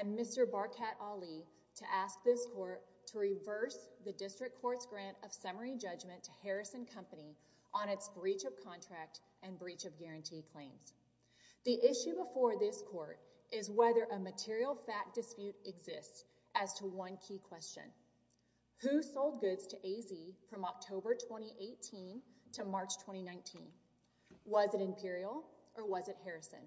and Mr. Barkat Ali to ask this court to reverse the District Court's Grant of Summary Judgment to Harrison Company on its Breach of Contract and Breach of Guarantee claims. The issue before this court is whether a material fact dispute exists as to one key question. Who sold goods to A-Z from October 2018 to March 2019? Was it Imperial or was it Harrison?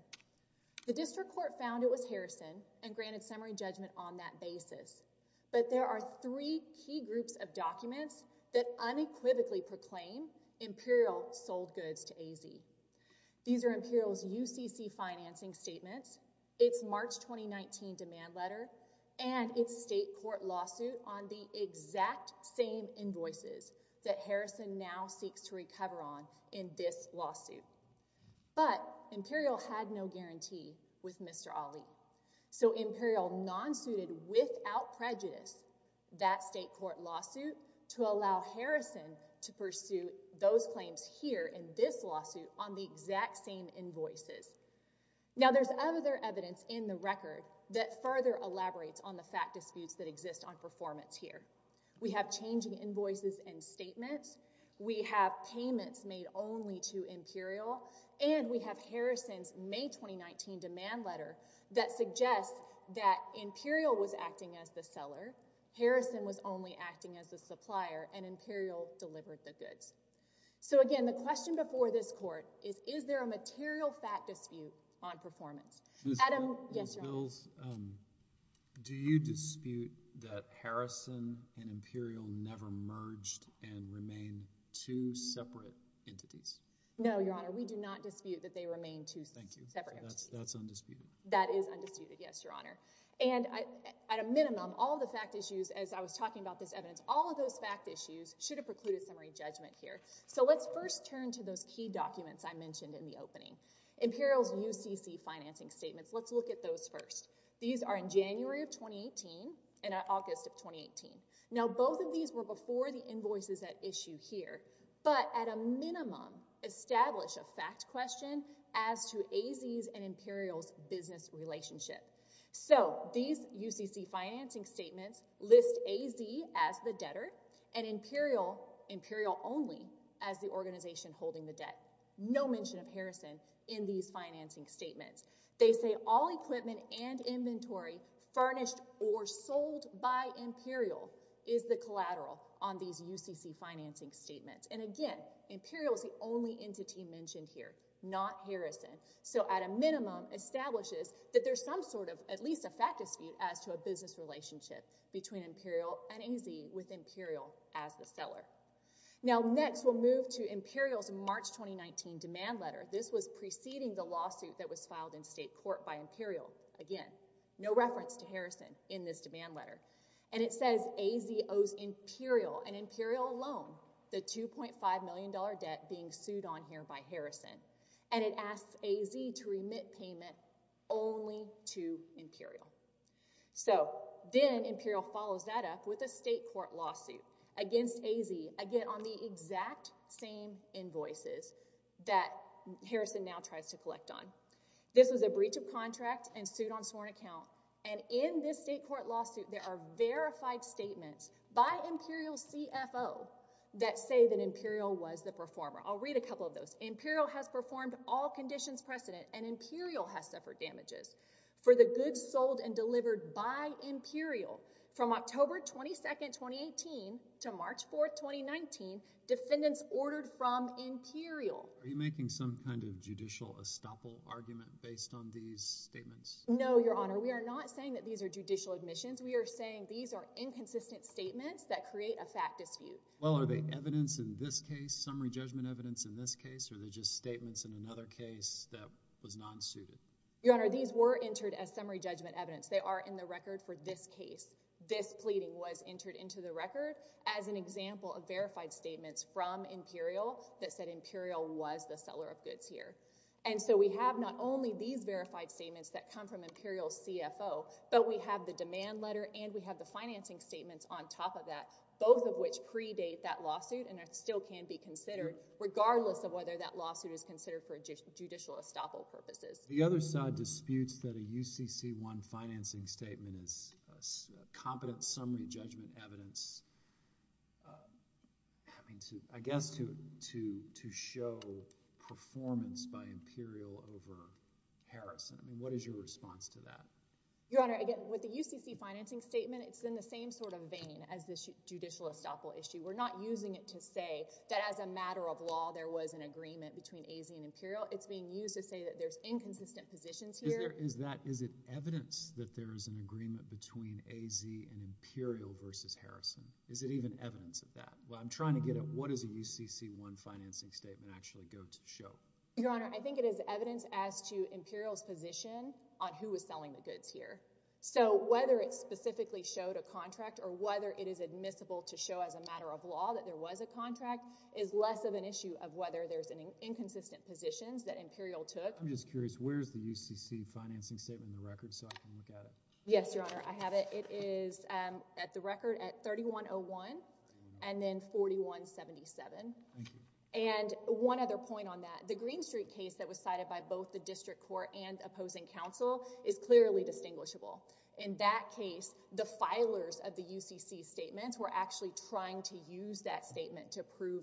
The District Court found it was Harrison and granted summary judgment on that basis, but there are three key groups of documents that unequivocally proclaim Imperial sold goods to A-Z. These are Imperial's UCC financing statements, its March 2019 demand letter, and its state court lawsuit on the exact same invoices that Harrison now seeks to recover on in this lawsuit. But there's other evidence in the record that further elaborates on the fact disputes that exist on performance here. We have changing invoices and statements. We have payments made only to Imperial. And we have Harrison's May 2019 demand letter that suggests that Harrison was only acting as a supplier and Imperial delivered the goods. So again, the question before this court is, is there a material fact dispute on performance? Do you dispute that Harrison and Imperial never merged and remain two separate entities? No, Your Honor. We do not dispute that they remain two separate entities. That's undisputed. That is undisputed, yes, Your Honor. And at a minimum, all the fact issues, as I was talking about this evidence, all of those fact issues should have precluded summary judgment here. So let's first turn to those key documents I mentioned in the opening. Imperial's UCC financing statements. Let's look at those first. These are in January of 2018 and August of 2018. Now, both of these were before the invoices at issue here. But at a minimum, establish a fact question as to AZ's and Imperial's business relationship. So these UCC financing statements list AZ as the debtor and Imperial only as the organization holding the debt. No mention of Harrison in these financing statements. They say all equipment and inventory furnished or sold by Imperial is the collateral on these UCC financing statements. And again, Imperial is the only entity mentioned here, not Harrison. So at a minimum, establishes that there's some sort of at least a fact dispute as to a business relationship between Imperial and AZ with Imperial as the seller. Now, next we'll move to Imperial's March 2019 demand letter. This was preceding the lawsuit that was filed in state court by Imperial. Again, no reference to Harrison in this demand letter. And it says AZ owes Imperial and Imperial alone the $2.5 million debt being sued on here by Harrison. And it asks AZ to remit payment only to Imperial. So then Imperial follows that up with a state court lawsuit against AZ, again on the exact same invoices that Harrison now tries to collect on. This was a breach of contract and suit on account. And in this state court lawsuit, there are verified statements by Imperial CFO that say that Imperial was the performer. I'll read a couple of those. Imperial has performed all conditions precedent and Imperial has suffered damages for the goods sold and delivered by Imperial from October 22nd, 2018 to March 4th, 2019. Defendants ordered from Imperial. Are you making some kind of judicial estoppel argument based on these statements? No, Your Honor. We are not saying that these are judicial admissions. We are saying these are inconsistent statements that create a fact dispute. Well, are they evidence in this case, summary judgment evidence in this case, or are they just statements in another case that was non-suited? Your Honor, these were entered as summary judgment evidence. They are in the record for this case. This pleading was entered into the record as an example of verified statements from Imperial that said Imperial was the seller of goods here. And so we have not only these verified statements that come from Imperial CFO, but we have the demand letter and we have the financing statements on top of that, both of which predate that lawsuit and still can be considered, regardless of whether that lawsuit is considered for judicial estoppel purposes. The other side disputes that a UCC1 financing statement is competent summary judgment evidence, uh, I mean to, I guess to, to, to show performance by Imperial over Harrison. I mean, what is your response to that? Your Honor, again, with the UCC financing statement, it's in the same sort of vein as this judicial estoppel issue. We're not using it to say that as a matter of law, there was an agreement between AZ and Imperial. It's being used to say that there's inconsistent positions here. Is there, is that, is it evidence that there is an agreement between AZ and Imperial versus Harrison? Is it even evidence of that? Well, I'm trying to get at what is a UCC1 financing statement actually go to show? Your Honor, I think it is evidence as to Imperial's position on who was selling the goods here. So whether it specifically showed a contract or whether it is admissible to show as a matter of law that there was a contract is less of an issue of whether there's any inconsistent positions that Imperial took. I'm just curious, where's the UCC financing statement in the record so I can look at it? Yes, Your Honor, I have it. It is at the record at 3101 and then 4177. Thank you. And one other point on that, the Green Street case that was cited by both the district court and opposing counsel is clearly distinguishable. In that case, the filers of the UCC statements were actually trying to use that statement to financing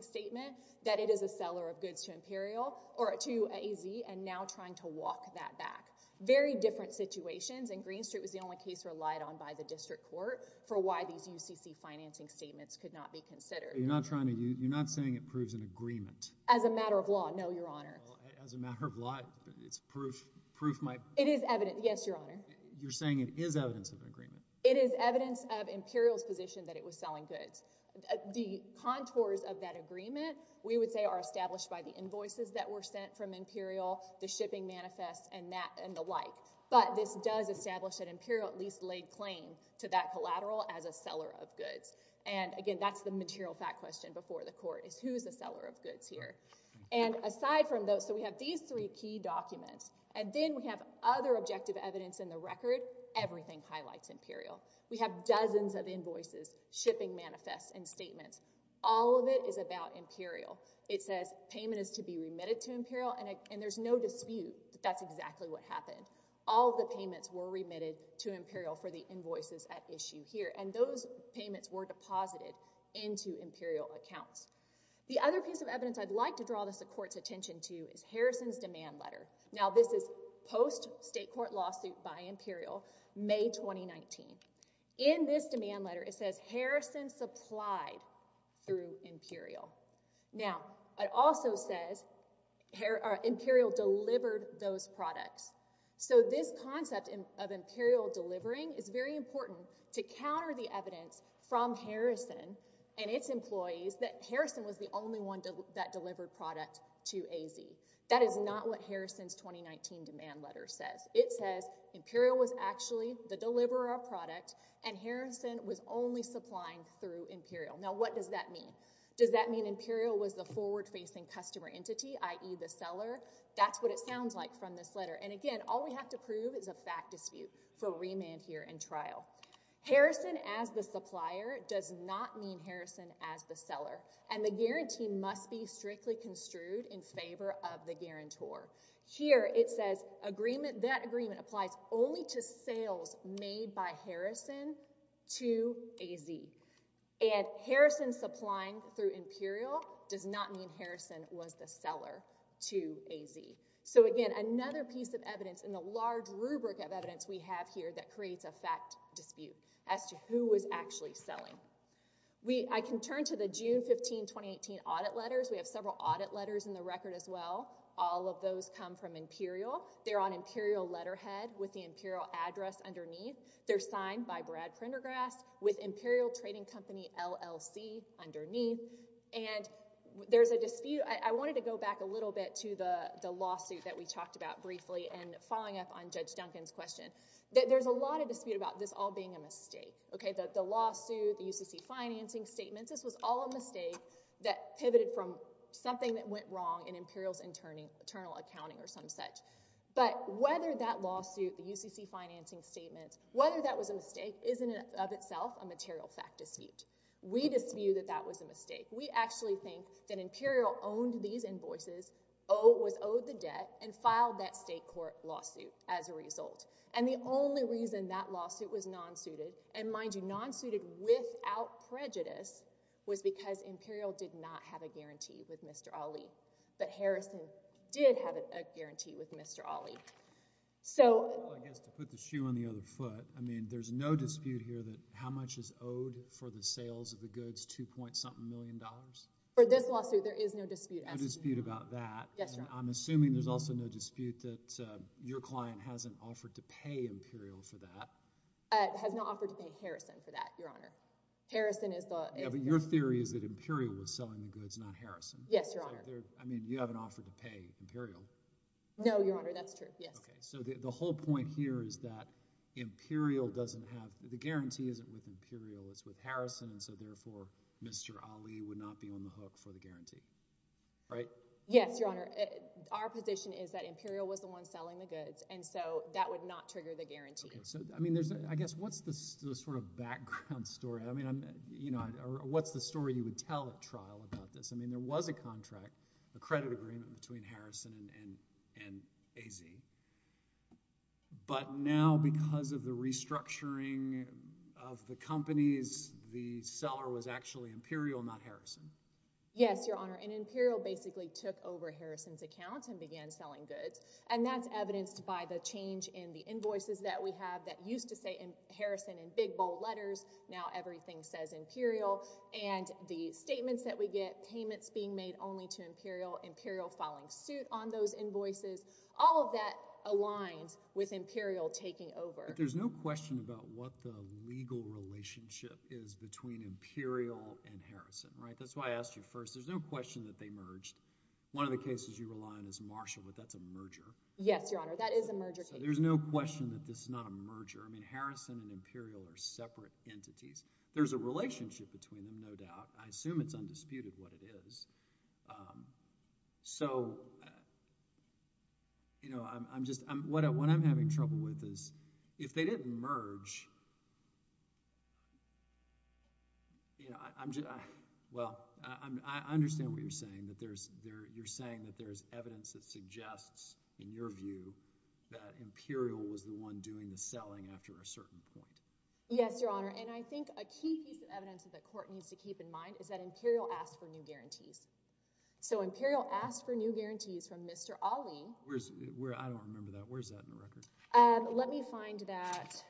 statement that it is a seller of goods to Imperial or to AZ and now trying to walk that back. Very different situations and Green Street was the only case relied on by the district court for why these UCC financing statements could not be considered. You're not trying to, you're not saying it proves an agreement? As a matter of law, no, Your Honor. As a matter of law, it's proof, proof might. It is evidence, yes, Your Honor. You're saying it is evidence of agreement? It is evidence of Imperial's position that it was selling goods. The contours of that agreement, we would say, are established by the invoices that were sent from Imperial, the shipping manifests, and that and the like. But this does establish that Imperial at least laid claim to that collateral as a seller of goods. And again, that's the material fact question before the court is who's a seller of goods here. And aside from those, so we have these three key documents and then we have other of invoices, shipping manifests, and statements. All of it is about Imperial. It says payment is to be remitted to Imperial and there's no dispute that that's exactly what happened. All the payments were remitted to Imperial for the invoices at issue here and those payments were deposited into Imperial accounts. The other piece of evidence I'd like to draw the court's attention to is Harrison's demand letter. Now this is post-state court lawsuit by Imperial, May 2019. In this demand letter, it says Harrison supplied through Imperial. Now it also says Imperial delivered those products. So this concept of Imperial delivering is very important to counter the evidence from Harrison and its employees that Harrison was the only one that delivered product to AZ. That is not what Harrison's 2019 demand letter says. It says Imperial was actually the deliverer of product and Harrison was only supplying through Imperial. Now what does that mean? Does that mean Imperial was the forward-facing customer entity, i.e. the seller? That's what it sounds like from this letter. And again, all we have to prove is a fact dispute for remand here in trial. Harrison as the supplier does not mean Harrison as the seller and the guarantee must be strictly construed in favor of the guarantor. Here it says agreement, that agreement applies only to sales made by Harrison to AZ. And Harrison supplying through Imperial does not mean Harrison was the seller to AZ. So again, another piece of evidence in the large rubric of evidence we have here that creates a fact dispute as to who was actually selling. I can turn to the June 15, 2018 audit letters. We have several audit letters in the record as well. All of those come from Imperial. They're on Imperial letterhead with the Imperial address underneath. They're signed by Brad Prendergrass with Imperial Trading Company LLC underneath. And there's a dispute. I wanted to go back a little bit to the lawsuit that we talked about briefly and following up on Judge Duncan's question. There's a lot of dispute about this all being a mistake. The lawsuit, the UCC financing statements, this was all a mistake that pivoted from something that went wrong in Imperial's internal accounting or some such. But whether that lawsuit, the UCC financing statements, whether that was a mistake isn't of itself a material fact dispute. We dispute that that was a mistake. We actually think that Imperial owned these invoices, was owed the debt, and filed that state court lawsuit as a result. And the only reason that lawsuit was non-suited, and mind you, non-suited without prejudice, was because Imperial did not have a guarantee with Mr. Ali. But Harrison did have a guarantee with Mr. Ali. So— Well, I guess to put the shoe on the other foot, I mean, there's no dispute here that how much is owed for the sales of the goods, two-point-something million dollars? For this lawsuit, there is no dispute. No dispute about that. I'm assuming there's also no dispute that your client hasn't offered to pay Imperial for that. Has not offered to pay that, Your Honor. Harrison is the— Yeah, but your theory is that Imperial was selling the goods, not Harrison. Yes, Your Honor. I mean, you haven't offered to pay Imperial. No, Your Honor, that's true, yes. Okay, so the whole point here is that Imperial doesn't have—the guarantee isn't with Imperial, it's with Harrison, and so therefore Mr. Ali would not be on the hook for the guarantee, right? Yes, Your Honor. Our position is that Imperial was the one selling the goods, and so that would not trigger the guarantee. I mean, there's—I guess what's the sort of background story? I mean, you know, what's the story you would tell at trial about this? I mean, there was a contract, a credit agreement between Harrison and AZ, but now because of the restructuring of the companies, the seller was actually Imperial, not Harrison. Yes, Your Honor, and Imperial basically took over Harrison's selling goods, and that's evidenced by the change in the invoices that we have that used to say Harrison in big, bold letters. Now everything says Imperial, and the statements that we get, payments being made only to Imperial, Imperial filing suit on those invoices, all of that aligns with Imperial taking over. But there's no question about what the legal relationship is between Imperial and Harrison, right? That's why I asked you first. There's no question that they merged. One of the cases you rely on is Marshall, but that's a merger. Yes, Your Honor, that is a merger case. So there's no question that this is not a merger. I mean, Harrison and Imperial are separate entities. There's a relationship between them, no doubt. I assume it's undisputed what it is. So, you know, I'm just—what I'm saying is, you're saying that there's evidence that suggests, in your view, that Imperial was the one doing the selling after a certain point. Yes, Your Honor, and I think a key piece of evidence that the court needs to keep in mind is that Imperial asked for new guarantees. So Imperial asked for new guarantees from Mr. Ali. Where's—I don't remember that. Where's that in the record? Let me find that.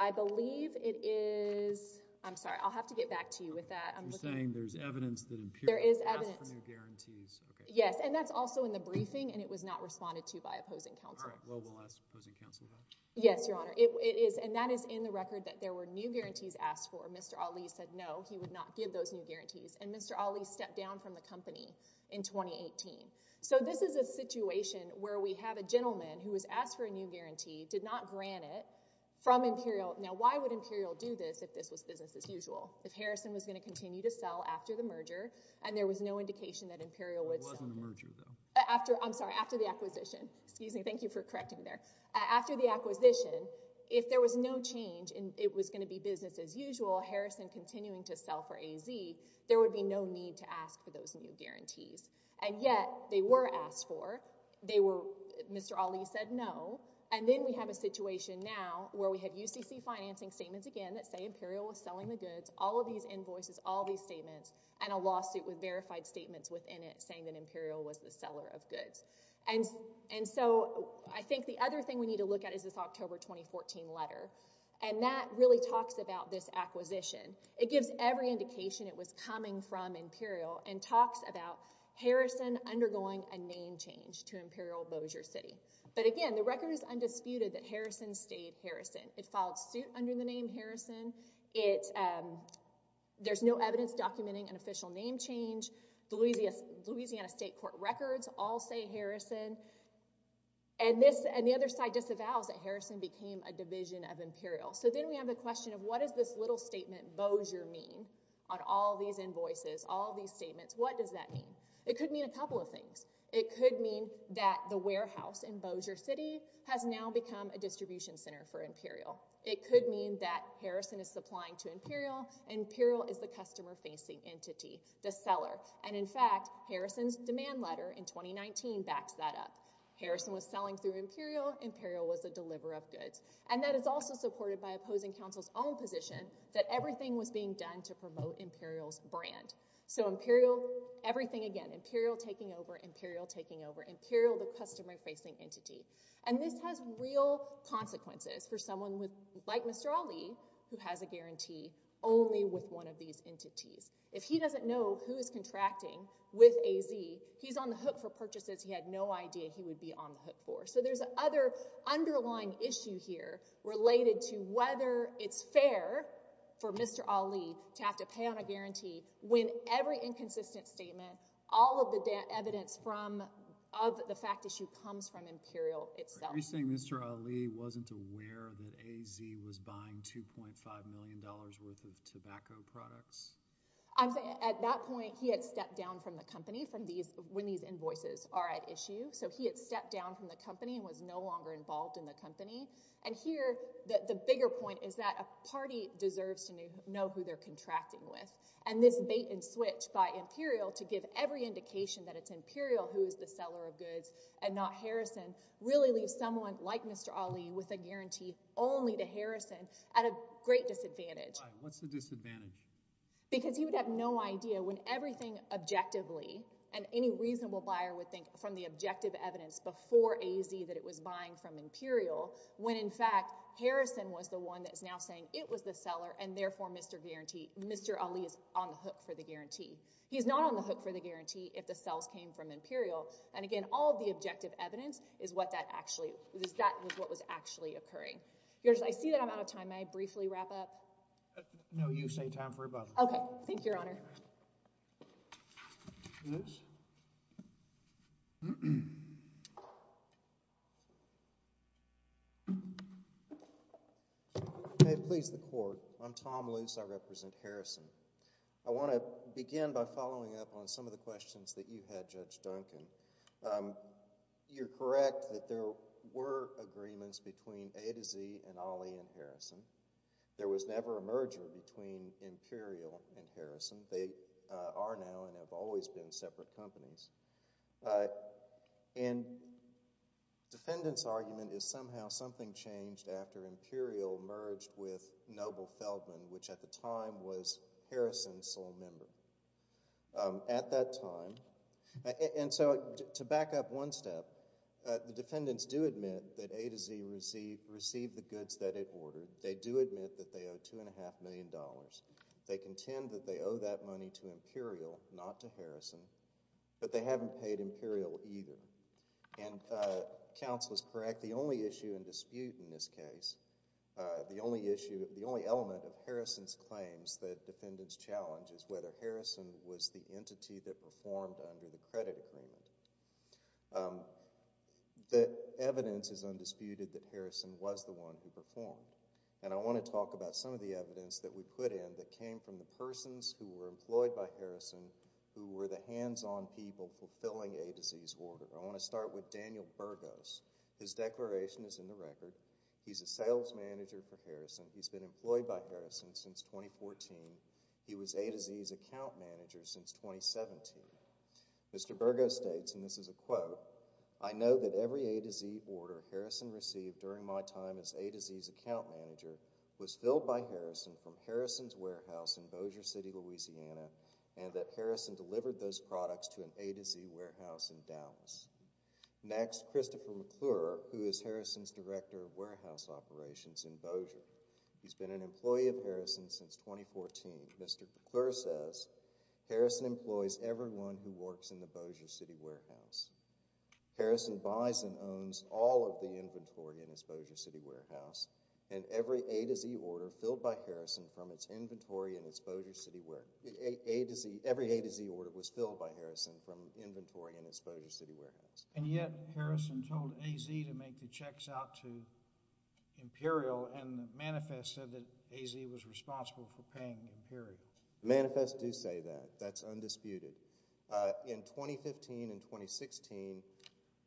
I believe it is—I'm sorry, I'll have to get back to you with that. You're saying there's evidence that Imperial asked for new guarantees. Yes, and that's also in the briefing, and it was not responded to by opposing counsel. All right, well, we'll ask opposing counsel about it. Yes, Your Honor, it is, and that is in the record that there were new guarantees asked for. Mr. Ali said no, he would not give those new guarantees, and Mr. Ali stepped down from the company in 2018. So this is a situation where we have a gentleman who was asked for a new guarantee, did not grant it, from Imperial. Now, why would Imperial do this if this was business as usual? If Harrison was going to continue to sell after the merger, and there was no indication that Imperial would— It wasn't a merger, though. I'm sorry, after the acquisition. Excuse me, thank you for correcting me there. After the acquisition, if there was no change, and it was going to be business as usual, Harrison continuing to sell for AZ, there would be no need to ask for those new guarantees. And yet, they were asked for, they were—Mr. Ali said no, and then we have a situation now where we have UCC financing statements again that say Imperial was selling the goods, all of these invoices, all these statements, and a lawsuit with verified statements within it saying that Imperial was the seller of goods. And so I think the other thing we need to look at is this October 2014 letter, and that really talks about this acquisition. It gives every indication it was coming from Imperial, and talks about Harrison undergoing a name change to Imperial Bossier City. But again, the record is undisputed that Harrison stayed Harrison. It um, there's no evidence documenting an official name change. The Louisiana State Court records all say Harrison. And this, and the other side disavows that Harrison became a division of Imperial. So then we have a question of what does this little statement Bossier mean on all these invoices, all these statements? What does that mean? It could mean a couple of things. It could mean that the warehouse in Bossier City has now become a distribution center for Imperial. It could mean that Harrison is supplying to Imperial, and Imperial is the customer-facing entity, the seller. And in fact, Harrison's demand letter in 2019 backs that up. Harrison was selling through Imperial, Imperial was a deliverer of goods. And that is also supported by opposing counsel's own position that everything was being done to promote Imperial's brand. So Imperial, everything again, Imperial taking over, Imperial taking over, Imperial the customer-facing entity. And this has real consequences for someone with, like Mr. Ali, who has a guarantee only with one of these entities. If he doesn't know who is contracting with AZ, he's on the hook for purchases he had no idea he would be on the hook for. So there's other underlying issue here related to whether it's fair for Mr. Ali to have to pay on a guarantee when every inconsistent statement, all of the evidence from, of the fact issue comes from Imperial itself. Are you saying Mr. Ali wasn't aware that AZ was buying $2.5 million worth of tobacco products? I'm saying at that point, he had stepped down from the company from these, when these invoices are at issue. So he had stepped down from the company and was no longer involved in the company. And here, the bigger point is that a party deserves to know who they're contracting with. And this bait and switch by Imperial to give every indication that it's Imperial who is the seller of goods and not Harrison really leaves someone like Mr. Ali with a guarantee only to Harrison at a great disadvantage. Why? What's the disadvantage? Because he would have no idea when everything objectively, and any reasonable buyer would think from the objective evidence before AZ that it was buying from Imperial, when in fact Harrison was the one that is now saying it was the seller and therefore Mr. Ali is on the hook for the guarantee. He's not on the hook for the guarantee if the sales came from Imperial. And again, all of the objective evidence is what that actually, that was what was actually occurring. I see that I'm out of time. May I briefly wrap up? No, you say time for a vote. Okay. Thank you, Your Honor. Okay, please the Court. I'm Tom Luce. I represent Harrison. I want to begin by following up on some of the questions that you had, Judge Duncan. You're correct that there were agreements between A to Z and Ali and Harrison. There was never a merger between Imperial and Harrison. They are now and have always been separate companies. And defendant's argument is somehow something changed after Imperial merged with Noble Feldman, which at the time was Harrison's sole member. At that time, and so to back up one step, the defendants do admit that A to Z received the goods that it ordered. They do admit that they owe two and a half million dollars. They contend that they owe that money to Imperial, not to Harrison, but they haven't paid Imperial either. And counsel is correct. The only issue in dispute in this case, the only issue, the only element of Harrison's claims that defendants challenge is whether Harrison was the entity that performed under the credit agreement. The evidence is undisputed that Harrison was the one who performed. And I want to talk about some of the evidence that we put in that came from the persons who were employed by Harrison who were the hands-on people fulfilling A to Z's order. I want to start with Daniel Burgos. His declaration is in the record. He's a sales manager for Harrison since 2014. He was A to Z's account manager since 2017. Mr. Burgos states, and this is a quote, I know that every A to Z order Harrison received during my time as A to Z's account manager was filled by Harrison from Harrison's warehouse in Bossier City, Louisiana, and that Harrison delivered those products to an A to Z warehouse in Dallas. Next, Christopher McClure, who is Harrison's director of warehouse operations in Bossier. He's been an employee of Harrison since 2014. Mr. McClure says, Harrison employs everyone who works in the Bossier City warehouse. Harrison buys and owns all of the inventory in his Bossier City warehouse, and every A to Z order filled by Harrison from its inventory in its Bossier City warehouse, every A to Z order was filled by Harrison from inventory in its Bossier City warehouse. And yet, Harrison told A to Z to make the checks out to Imperial, and the manifest said that A to Z was responsible for paying Imperial. Manifests do say that. That's undisputed. In 2015 and 2016,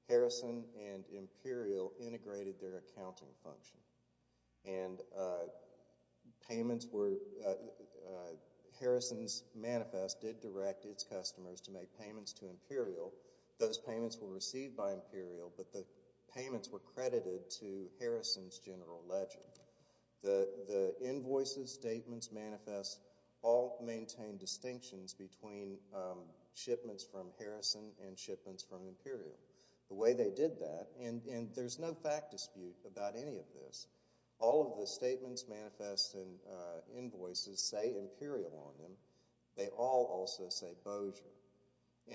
Harrison and Imperial integrated their accounting function, and Harrison's manifest did direct its customers to make payments to Imperial. Those payments were received by Imperial, but the payments were credited to Harrison's general ledger. The invoices, statements, manifests all maintain distinctions between shipments from Harrison and shipments from Imperial. The way they did that, and there's no fact dispute about any of this, all of the statements, manifests, and invoices say Imperial on them. They all also say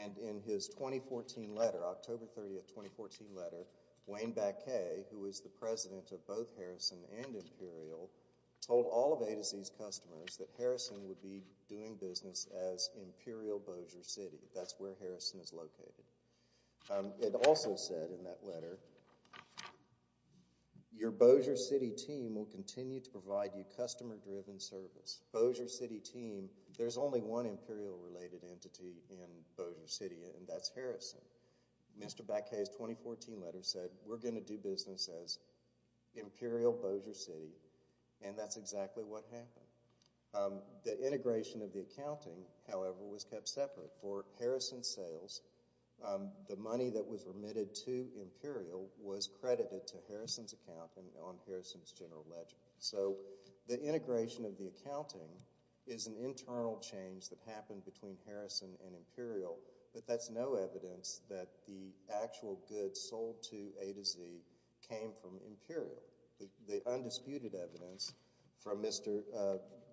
and in his 2014 letter, October 30th, 2014 letter, Wayne Bacquet, who was the president of both Harrison and Imperial, told all of A to Z's customers that Harrison would be doing business as Imperial Bossier City. That's where Harrison is located. It also said in that letter, your Bossier City team will continue to provide you customer-driven service. Bossier City team, there's only one Imperial-related entity in Bossier City, and that's Harrison. Mr. Bacquet's 2014 letter said, we're going to do business as Imperial Bossier City, and that's exactly what happened. The integration of the accounting, however, was kept separate. For Harrison sales, the money that was remitted to Imperial was credited to Harrison's account on Harrison's general ledger. The integration of the accounting is an internal change that happened between Harrison and Imperial, but that's no evidence that the actual goods sold to A to Z came from Imperial. The undisputed evidence from Mr.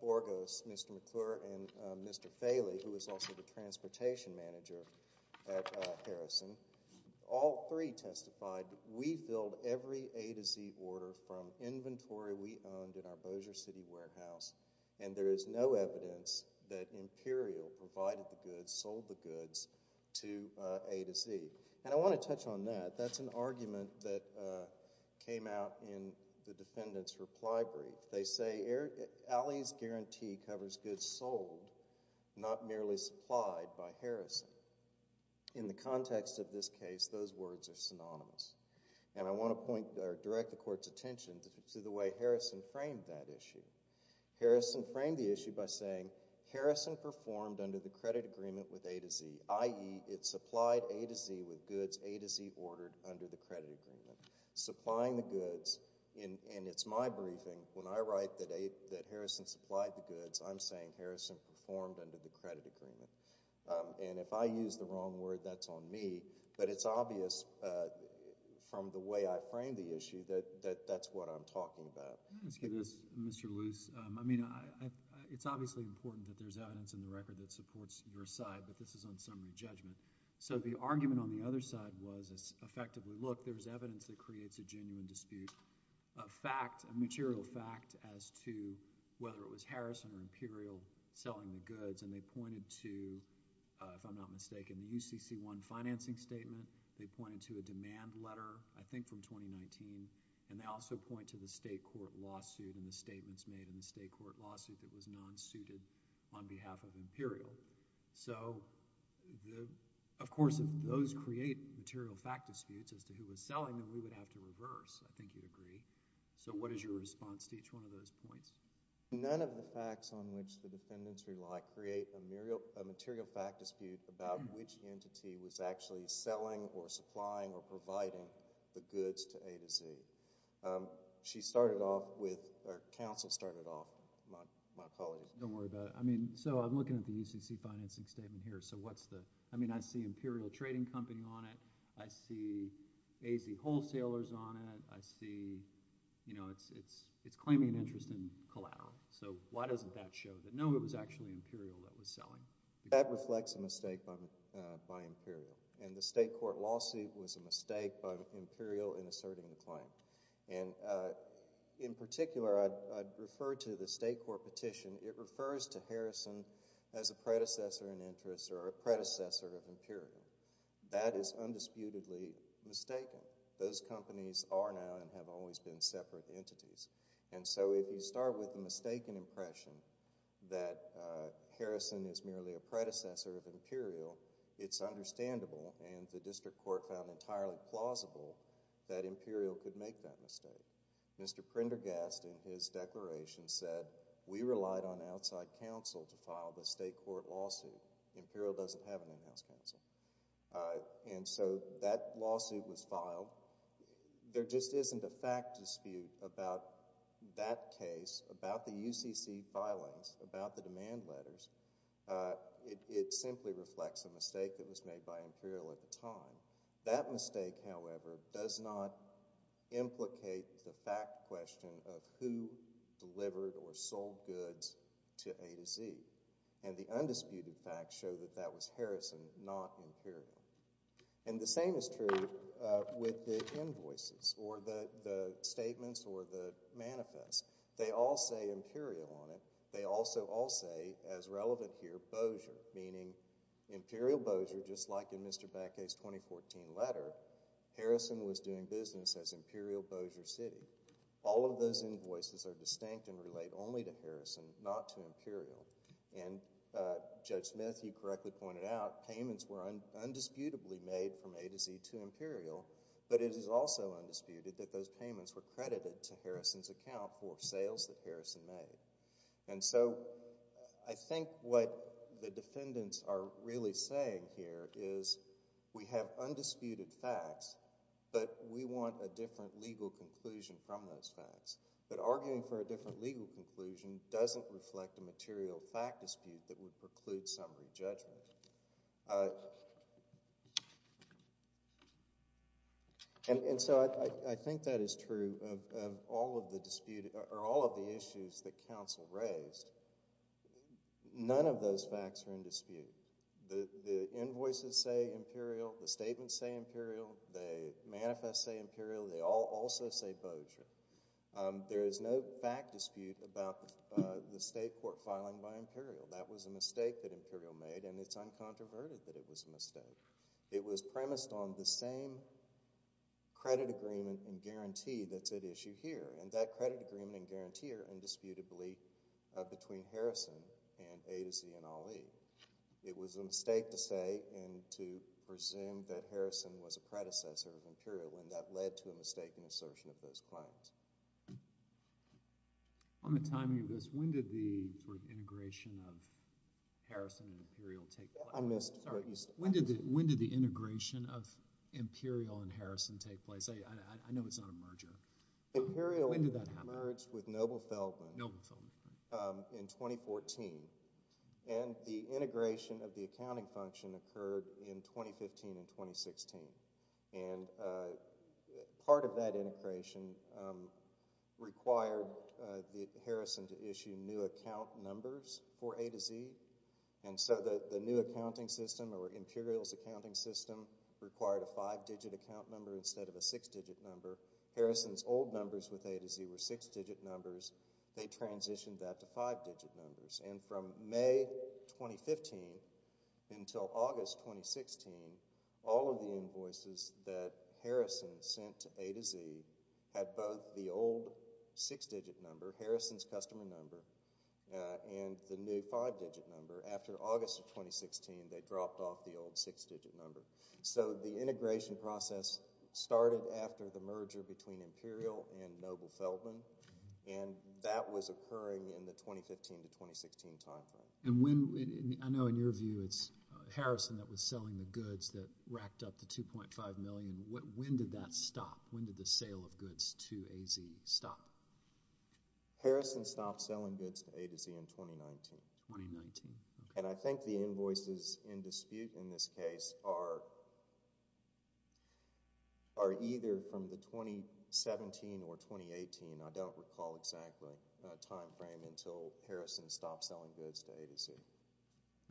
Borges, Mr. McClure, and Mr. Faley, who was also the transportation manager at Harrison, all three testified, we filled every A to Z order from inventory we owned in our Bossier City warehouse, and there is no evidence that Imperial provided the goods, sold the goods to A to Z. And I want to touch on that. That's an argument that came out in the defendant's reply brief. They say, Ali's guarantee covers goods sold, not merely supplied by Harrison. In the context of this case, those words are synonymous, and I want to point or direct the court's attention to the way Harrison framed that issue. Harrison framed the issue by saying, Harrison performed under the credit agreement with A to Z, i.e., it supplied A to Z with goods A to Z ordered under the credit agreement. Supplying the goods, and it's my briefing, when I write that Harrison supplied the goods, I'm saying Harrison performed under the credit agreement. And if I use the wrong word, that's on me, but it's obvious from the way I framed the issue that that's what I'm talking about. Excuse me, Mr. Luce. I mean, it's obviously important that there's evidence in the record that supports your side, but this is on summary judgment. So the argument on the other side was effectively, look, there's evidence that creates a genuine dispute, a fact, a material fact as to whether it was Harrison or Imperial selling the goods, and they pointed to, if I'm not mistaken, the UCC1 financing statement. They pointed to a demand letter, I think from 2019, and they also point to the state court lawsuit and the statements made in the state court lawsuit that was non-suited on behalf of Imperial. So, of course, if those create material fact disputes as to who was selling them, we would have to reverse. I think you'd agree. So what is your response to each one of those points? None of the facts on which the defendants rely create a material fact dispute about which entity was actually selling or supplying or providing the goods to A to Z. She started off with, or counsel started off, my colleague. Don't worry about it. I mean, so I'm looking at the UCC financing statement here, so what's the, I mean, I see Imperial Trading Company on it, I see AZ Wholesalers on it, I see, you know, it's claiming an interest in Collado, so why doesn't that show that, no, it was actually Imperial that was selling? That reflects a mistake by Imperial, and the state court lawsuit was a mistake by Imperial in asserting the claim, and in particular, I'd refer to the state court petition. It refers to Harrison as a predecessor in interest or a predecessor of separate entities, and so if you start with the mistaken impression that Harrison is merely a predecessor of Imperial, it's understandable, and the district court found entirely plausible that Imperial could make that mistake. Mr. Prendergast, in his declaration, said, we relied on outside counsel to file the state court lawsuit. Imperial doesn't have an in-house counsel, and so that lawsuit was filed. There just isn't a fact dispute about that case, about the UCC filings, about the demand letters. It simply reflects a mistake that was made by Imperial at the time. That mistake, however, does not implicate the fact question of who delivered or sold goods to A to Z, and the undisputed facts show that that was Harrison, not Imperial, and the same is true with the invoices or the statements or the manifests. They all say Imperial on it. They also all say, as relevant here, Bossier, meaning Imperial Bossier, just like in Mr. Beckett's 2014 letter, Harrison was doing business as Imperial Bossier City. All of those invoices are distinct and relate only to Harrison, not to Imperial, and Judge Smith, you correctly pointed out, payments were undisputably made from A to Z to Imperial, but it is also undisputed that those payments were credited to Harrison's account for sales that Harrison made, and so I think what the defendants are really saying here is we have undisputed facts, but arguing for a different legal conclusion doesn't reflect a material fact dispute that would preclude summary judgment, and so I think that is true of all of the issues that counsel raised. None of those facts are in dispute. The invoices say Imperial. The statements say Imperial. The manifests say Imperial. They all also say Bossier. There is no fact dispute about the state court filing by Imperial. That was a mistake that Imperial made, and it's uncontroverted that it was a mistake. It was premised on the same credit agreement and guarantee that's at issue here, and that credit agreement and guarantee are indisputably between Harrison and A to Z and when that led to a mistaken assertion of those claims. On the timing of this, when did the integration of Harrison and Imperial take place? I missed what you said. When did the integration of Imperial and Harrison take place? I know it's not a merger. Imperial merged with Noble Feldman in 2014, and the integration of the accounting function occurred in 2015 and 2016, and part of that integration required Harrison to issue new account numbers for A to Z, and so the new accounting system or Imperial's accounting system required a five-digit account number instead of a six-digit number. Harrison's old numbers with A to Z were six-digit numbers. They transitioned that to five-digit numbers, and from May 2015 until August 2016, all of the invoices that Harrison sent to A to Z had both the old six-digit number, Harrison's customer number, and the new five-digit number. After August of 2016, they dropped off the old six-digit number, so the integration process started after the merger between Imperial and Noble Feldman, and that was occurring in the 2015 timeframe. And when—I know in your view it's Harrison that was selling the goods that racked up the $2.5 million. When did that stop? When did the sale of goods to A to Z stop? Harrison stopped selling goods to A to Z in 2019. 2019, okay. And I think the invoices in dispute in this case are either from the 2017 or 2018—I don't recall exactly—timeframe until Harrison stopped selling goods to A to Z.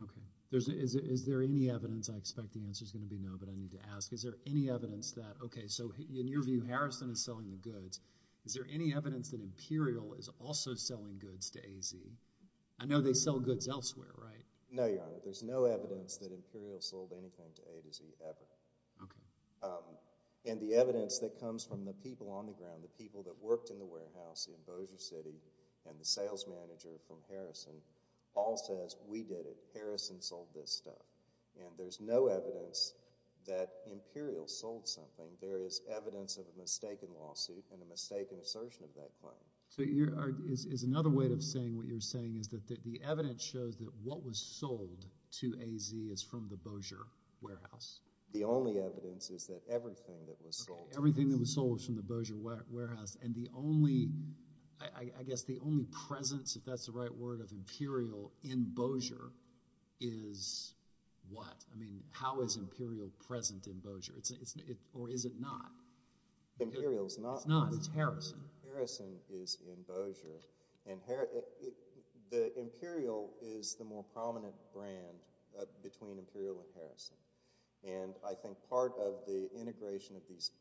Okay. Is there any evidence—I expect the answer is going to be no, but I need to ask—is there any evidence that—okay, so in your view, Harrison is selling the goods. Is there any evidence that Imperial is also selling goods to A to Z? I know they sell goods elsewhere, right? No, Your Honor. There's no evidence that Imperial sold anything to A to Z ever. Okay. And the evidence that comes from the people on the ground, the people that worked in the city, and the sales manager from Harrison all says, we did it. Harrison sold this stuff. And there's no evidence that Imperial sold something. There is evidence of a mistaken lawsuit and a mistaken assertion of that claim. So is another way of saying what you're saying is that the evidence shows that what was sold to A to Z is from the Bossier warehouse? The only evidence is that everything that was sold— I guess the only presence, if that's the right word, of Imperial in Bossier is what? I mean, how is Imperial present in Bossier? Or is it not? Imperial is not. It's not. It's Harrison. Harrison is in Bossier. And the Imperial is the more prominent brand between Imperial and Harrison. And I think part of the integration of these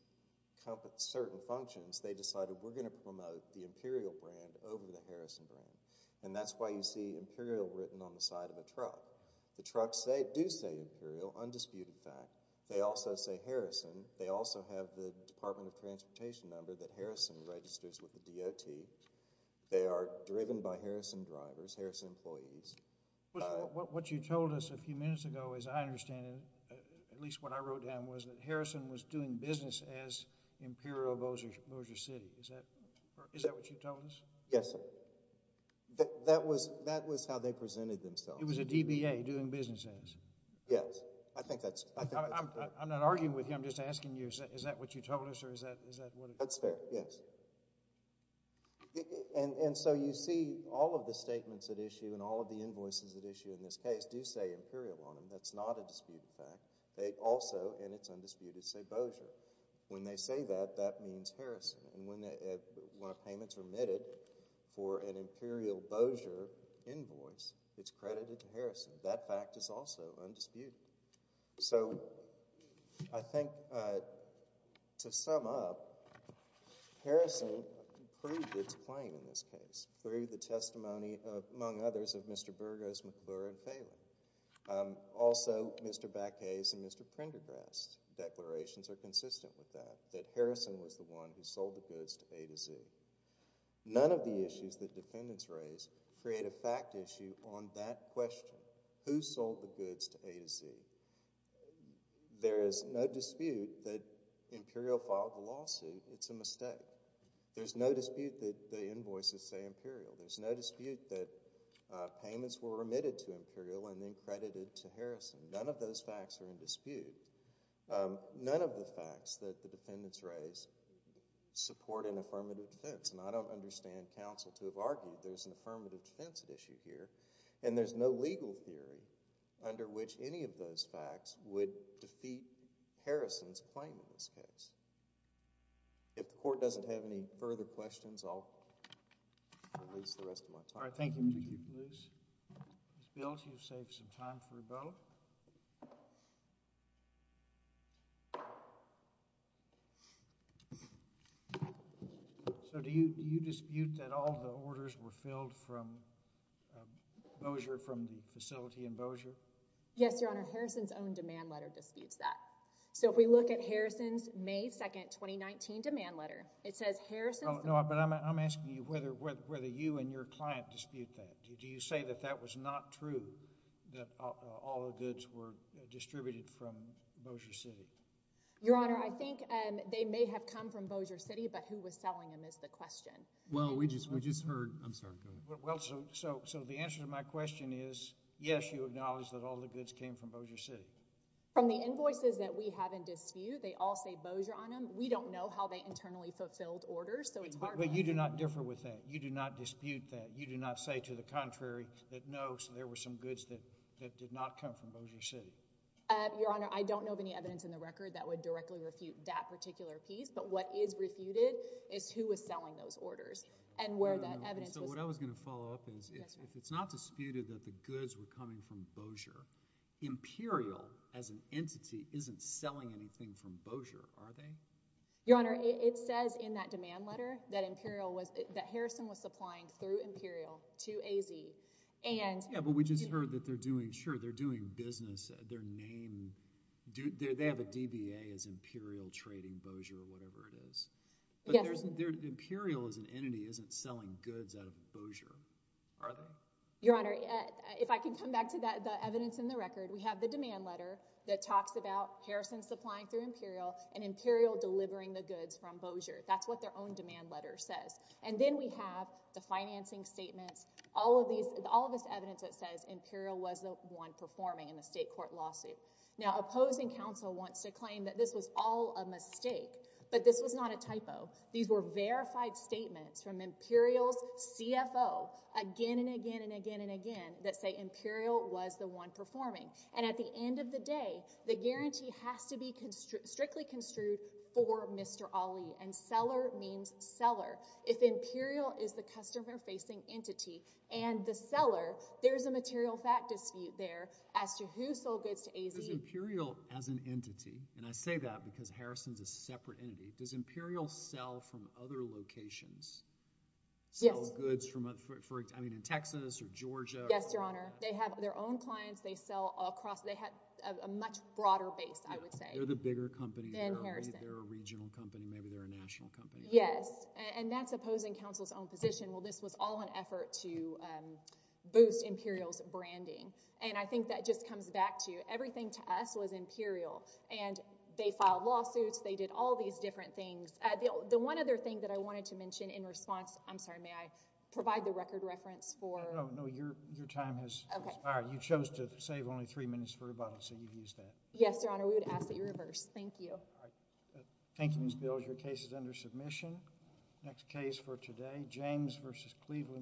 certain functions, they decided we're going to promote the Imperial brand over the Harrison brand. And that's why you see Imperial written on the side of a truck. The trucks do say Imperial, undisputed fact. They also say Harrison. They also have the Department of Transportation number that Harrison registers with the DOT. They are driven by Harrison drivers, Harrison employees. What you told us a few minutes ago, as I understand it, at least what I wrote down, was that Harrison was doing business as Imperial of Bossier City. Is that what you told us? Yes, sir. That was how they presented themselves. It was a DBA, doing business as? Yes. I think that's— I'm not arguing with you. I'm just asking you, is that what you told us? That's fair, yes. And so you see all of the statements at issue and all of the invoices at issue in this case do say Imperial on them. That's not a disputed fact. They also, and it's undisputed, say Bossier. When they say that, that means Harrison. And when a payment's remitted for an Imperial Bossier invoice, it's credited to Harrison. That fact is also undisputed. So I think, to sum up, Harrison proved its claim in this case through the testimony, among others, of Mr. Burgos, McClure, and Phelan. Also, Mr. Backhase and Mr. Prendergrass' declarations are consistent with that, that Harrison was the one who sold the goods to A to Z. None of the issues that defendants raise create a fact issue on that question. Who sold the goods to A to Z? There is no dispute that Imperial filed the lawsuit. It's a mistake. There's no dispute that the invoices say Imperial. There's no dispute that payments were remitted to Imperial and then credited to Harrison. None of those facts are in dispute. None of the facts that the defendants raise support an affirmative defense. And I don't understand counsel to have argued there's an affirmative defense issue here. And there's no legal theory under which any of those facts would defeat Harrison's claim in this case. If the Court doesn't have any further questions, I'll release the rest of my time. All right. Thank you, Mr. Chief Justice. Ms. Bills, you've saved some time for a vote. Do you dispute that all the orders were filled from the facility in Bossier? Yes, Your Honor. Harrison's own demand letter disputes that. So if we look at Harrison's May 2, 2019 demand letter, it says Harrison's— No, but I'm asking you whether you and your client dispute that. Do you say that that was not true, that all the goods were distributed from Bossier City? Your Honor, I think they may have come from Bossier City, but who was selling them is the question. Well, we just heard—I'm sorry, go ahead. Well, so the answer to my question is, yes, you acknowledge that all the goods came from Bossier City. From the invoices that we have in dispute, they all say Bossier on them. We don't know how they internally fulfilled orders, so it's hard— But you do not differ with that. You do not dispute that. You do not say to the contrary that no, so there were some goods that did not come from Bossier City. Your Honor, I don't know of any evidence in the record that would directly refute that particular piece, but what is refuted is who was selling those orders and where that evidence was— So what I was going to follow up is, if it's not disputed that the goods were coming from Bossier, Imperial, as an entity, isn't selling anything from Bossier, are they? Your Honor, it says in that demand letter that Imperial was— 2AZ, and— Yeah, but we just heard that they're doing— Sure, they're doing business. Their name— They have a DBA as Imperial Trading Bossier or whatever it is. But Imperial, as an entity, isn't selling goods out of Bossier, are they? Your Honor, if I can come back to the evidence in the record, we have the demand letter that talks about Harrison supplying through Imperial and Imperial delivering the goods from Bossier. That's what their own demand letter says. And then we have the financing statements, all of this evidence that says Imperial was the one performing in the state court lawsuit. Now, opposing counsel wants to claim that this was all a mistake, but this was not a typo. These were verified statements from Imperial's CFO again and again and again and again that say Imperial was the one performing. And at the end of the day, the guarantee has to be strictly construed for Mr. Ali, and seller means seller. If Imperial is the customer-facing entity and the seller, there's a material fact dispute there as to who sold goods to AZ— Does Imperial, as an entity— and I say that because Harrison's a separate entity— does Imperial sell from other locations? Yes. Sell goods from, I mean, in Texas or Georgia? Yes, Your Honor. They have their own clients. They sell across— they have a much broader base, I would say. They're the bigger company. Than Harrison. They're a regional company. Maybe they're a national company. Yes, and that's opposing counsel's own position. Well, this was all an effort to boost Imperial's branding, and I think that just comes back to everything to us was Imperial, and they filed lawsuits. They did all these different things. The one other thing that I wanted to mention in response— I'm sorry, may I provide the record reference for— No, no, no. Your time has expired. You chose to save only three minutes for rebuttal, so you used that. Yes, Your Honor. We would ask that you reverse. Thank you. Thank you, Ms. Bills. Your case is under submission. Next case for today, James v. Cleveland.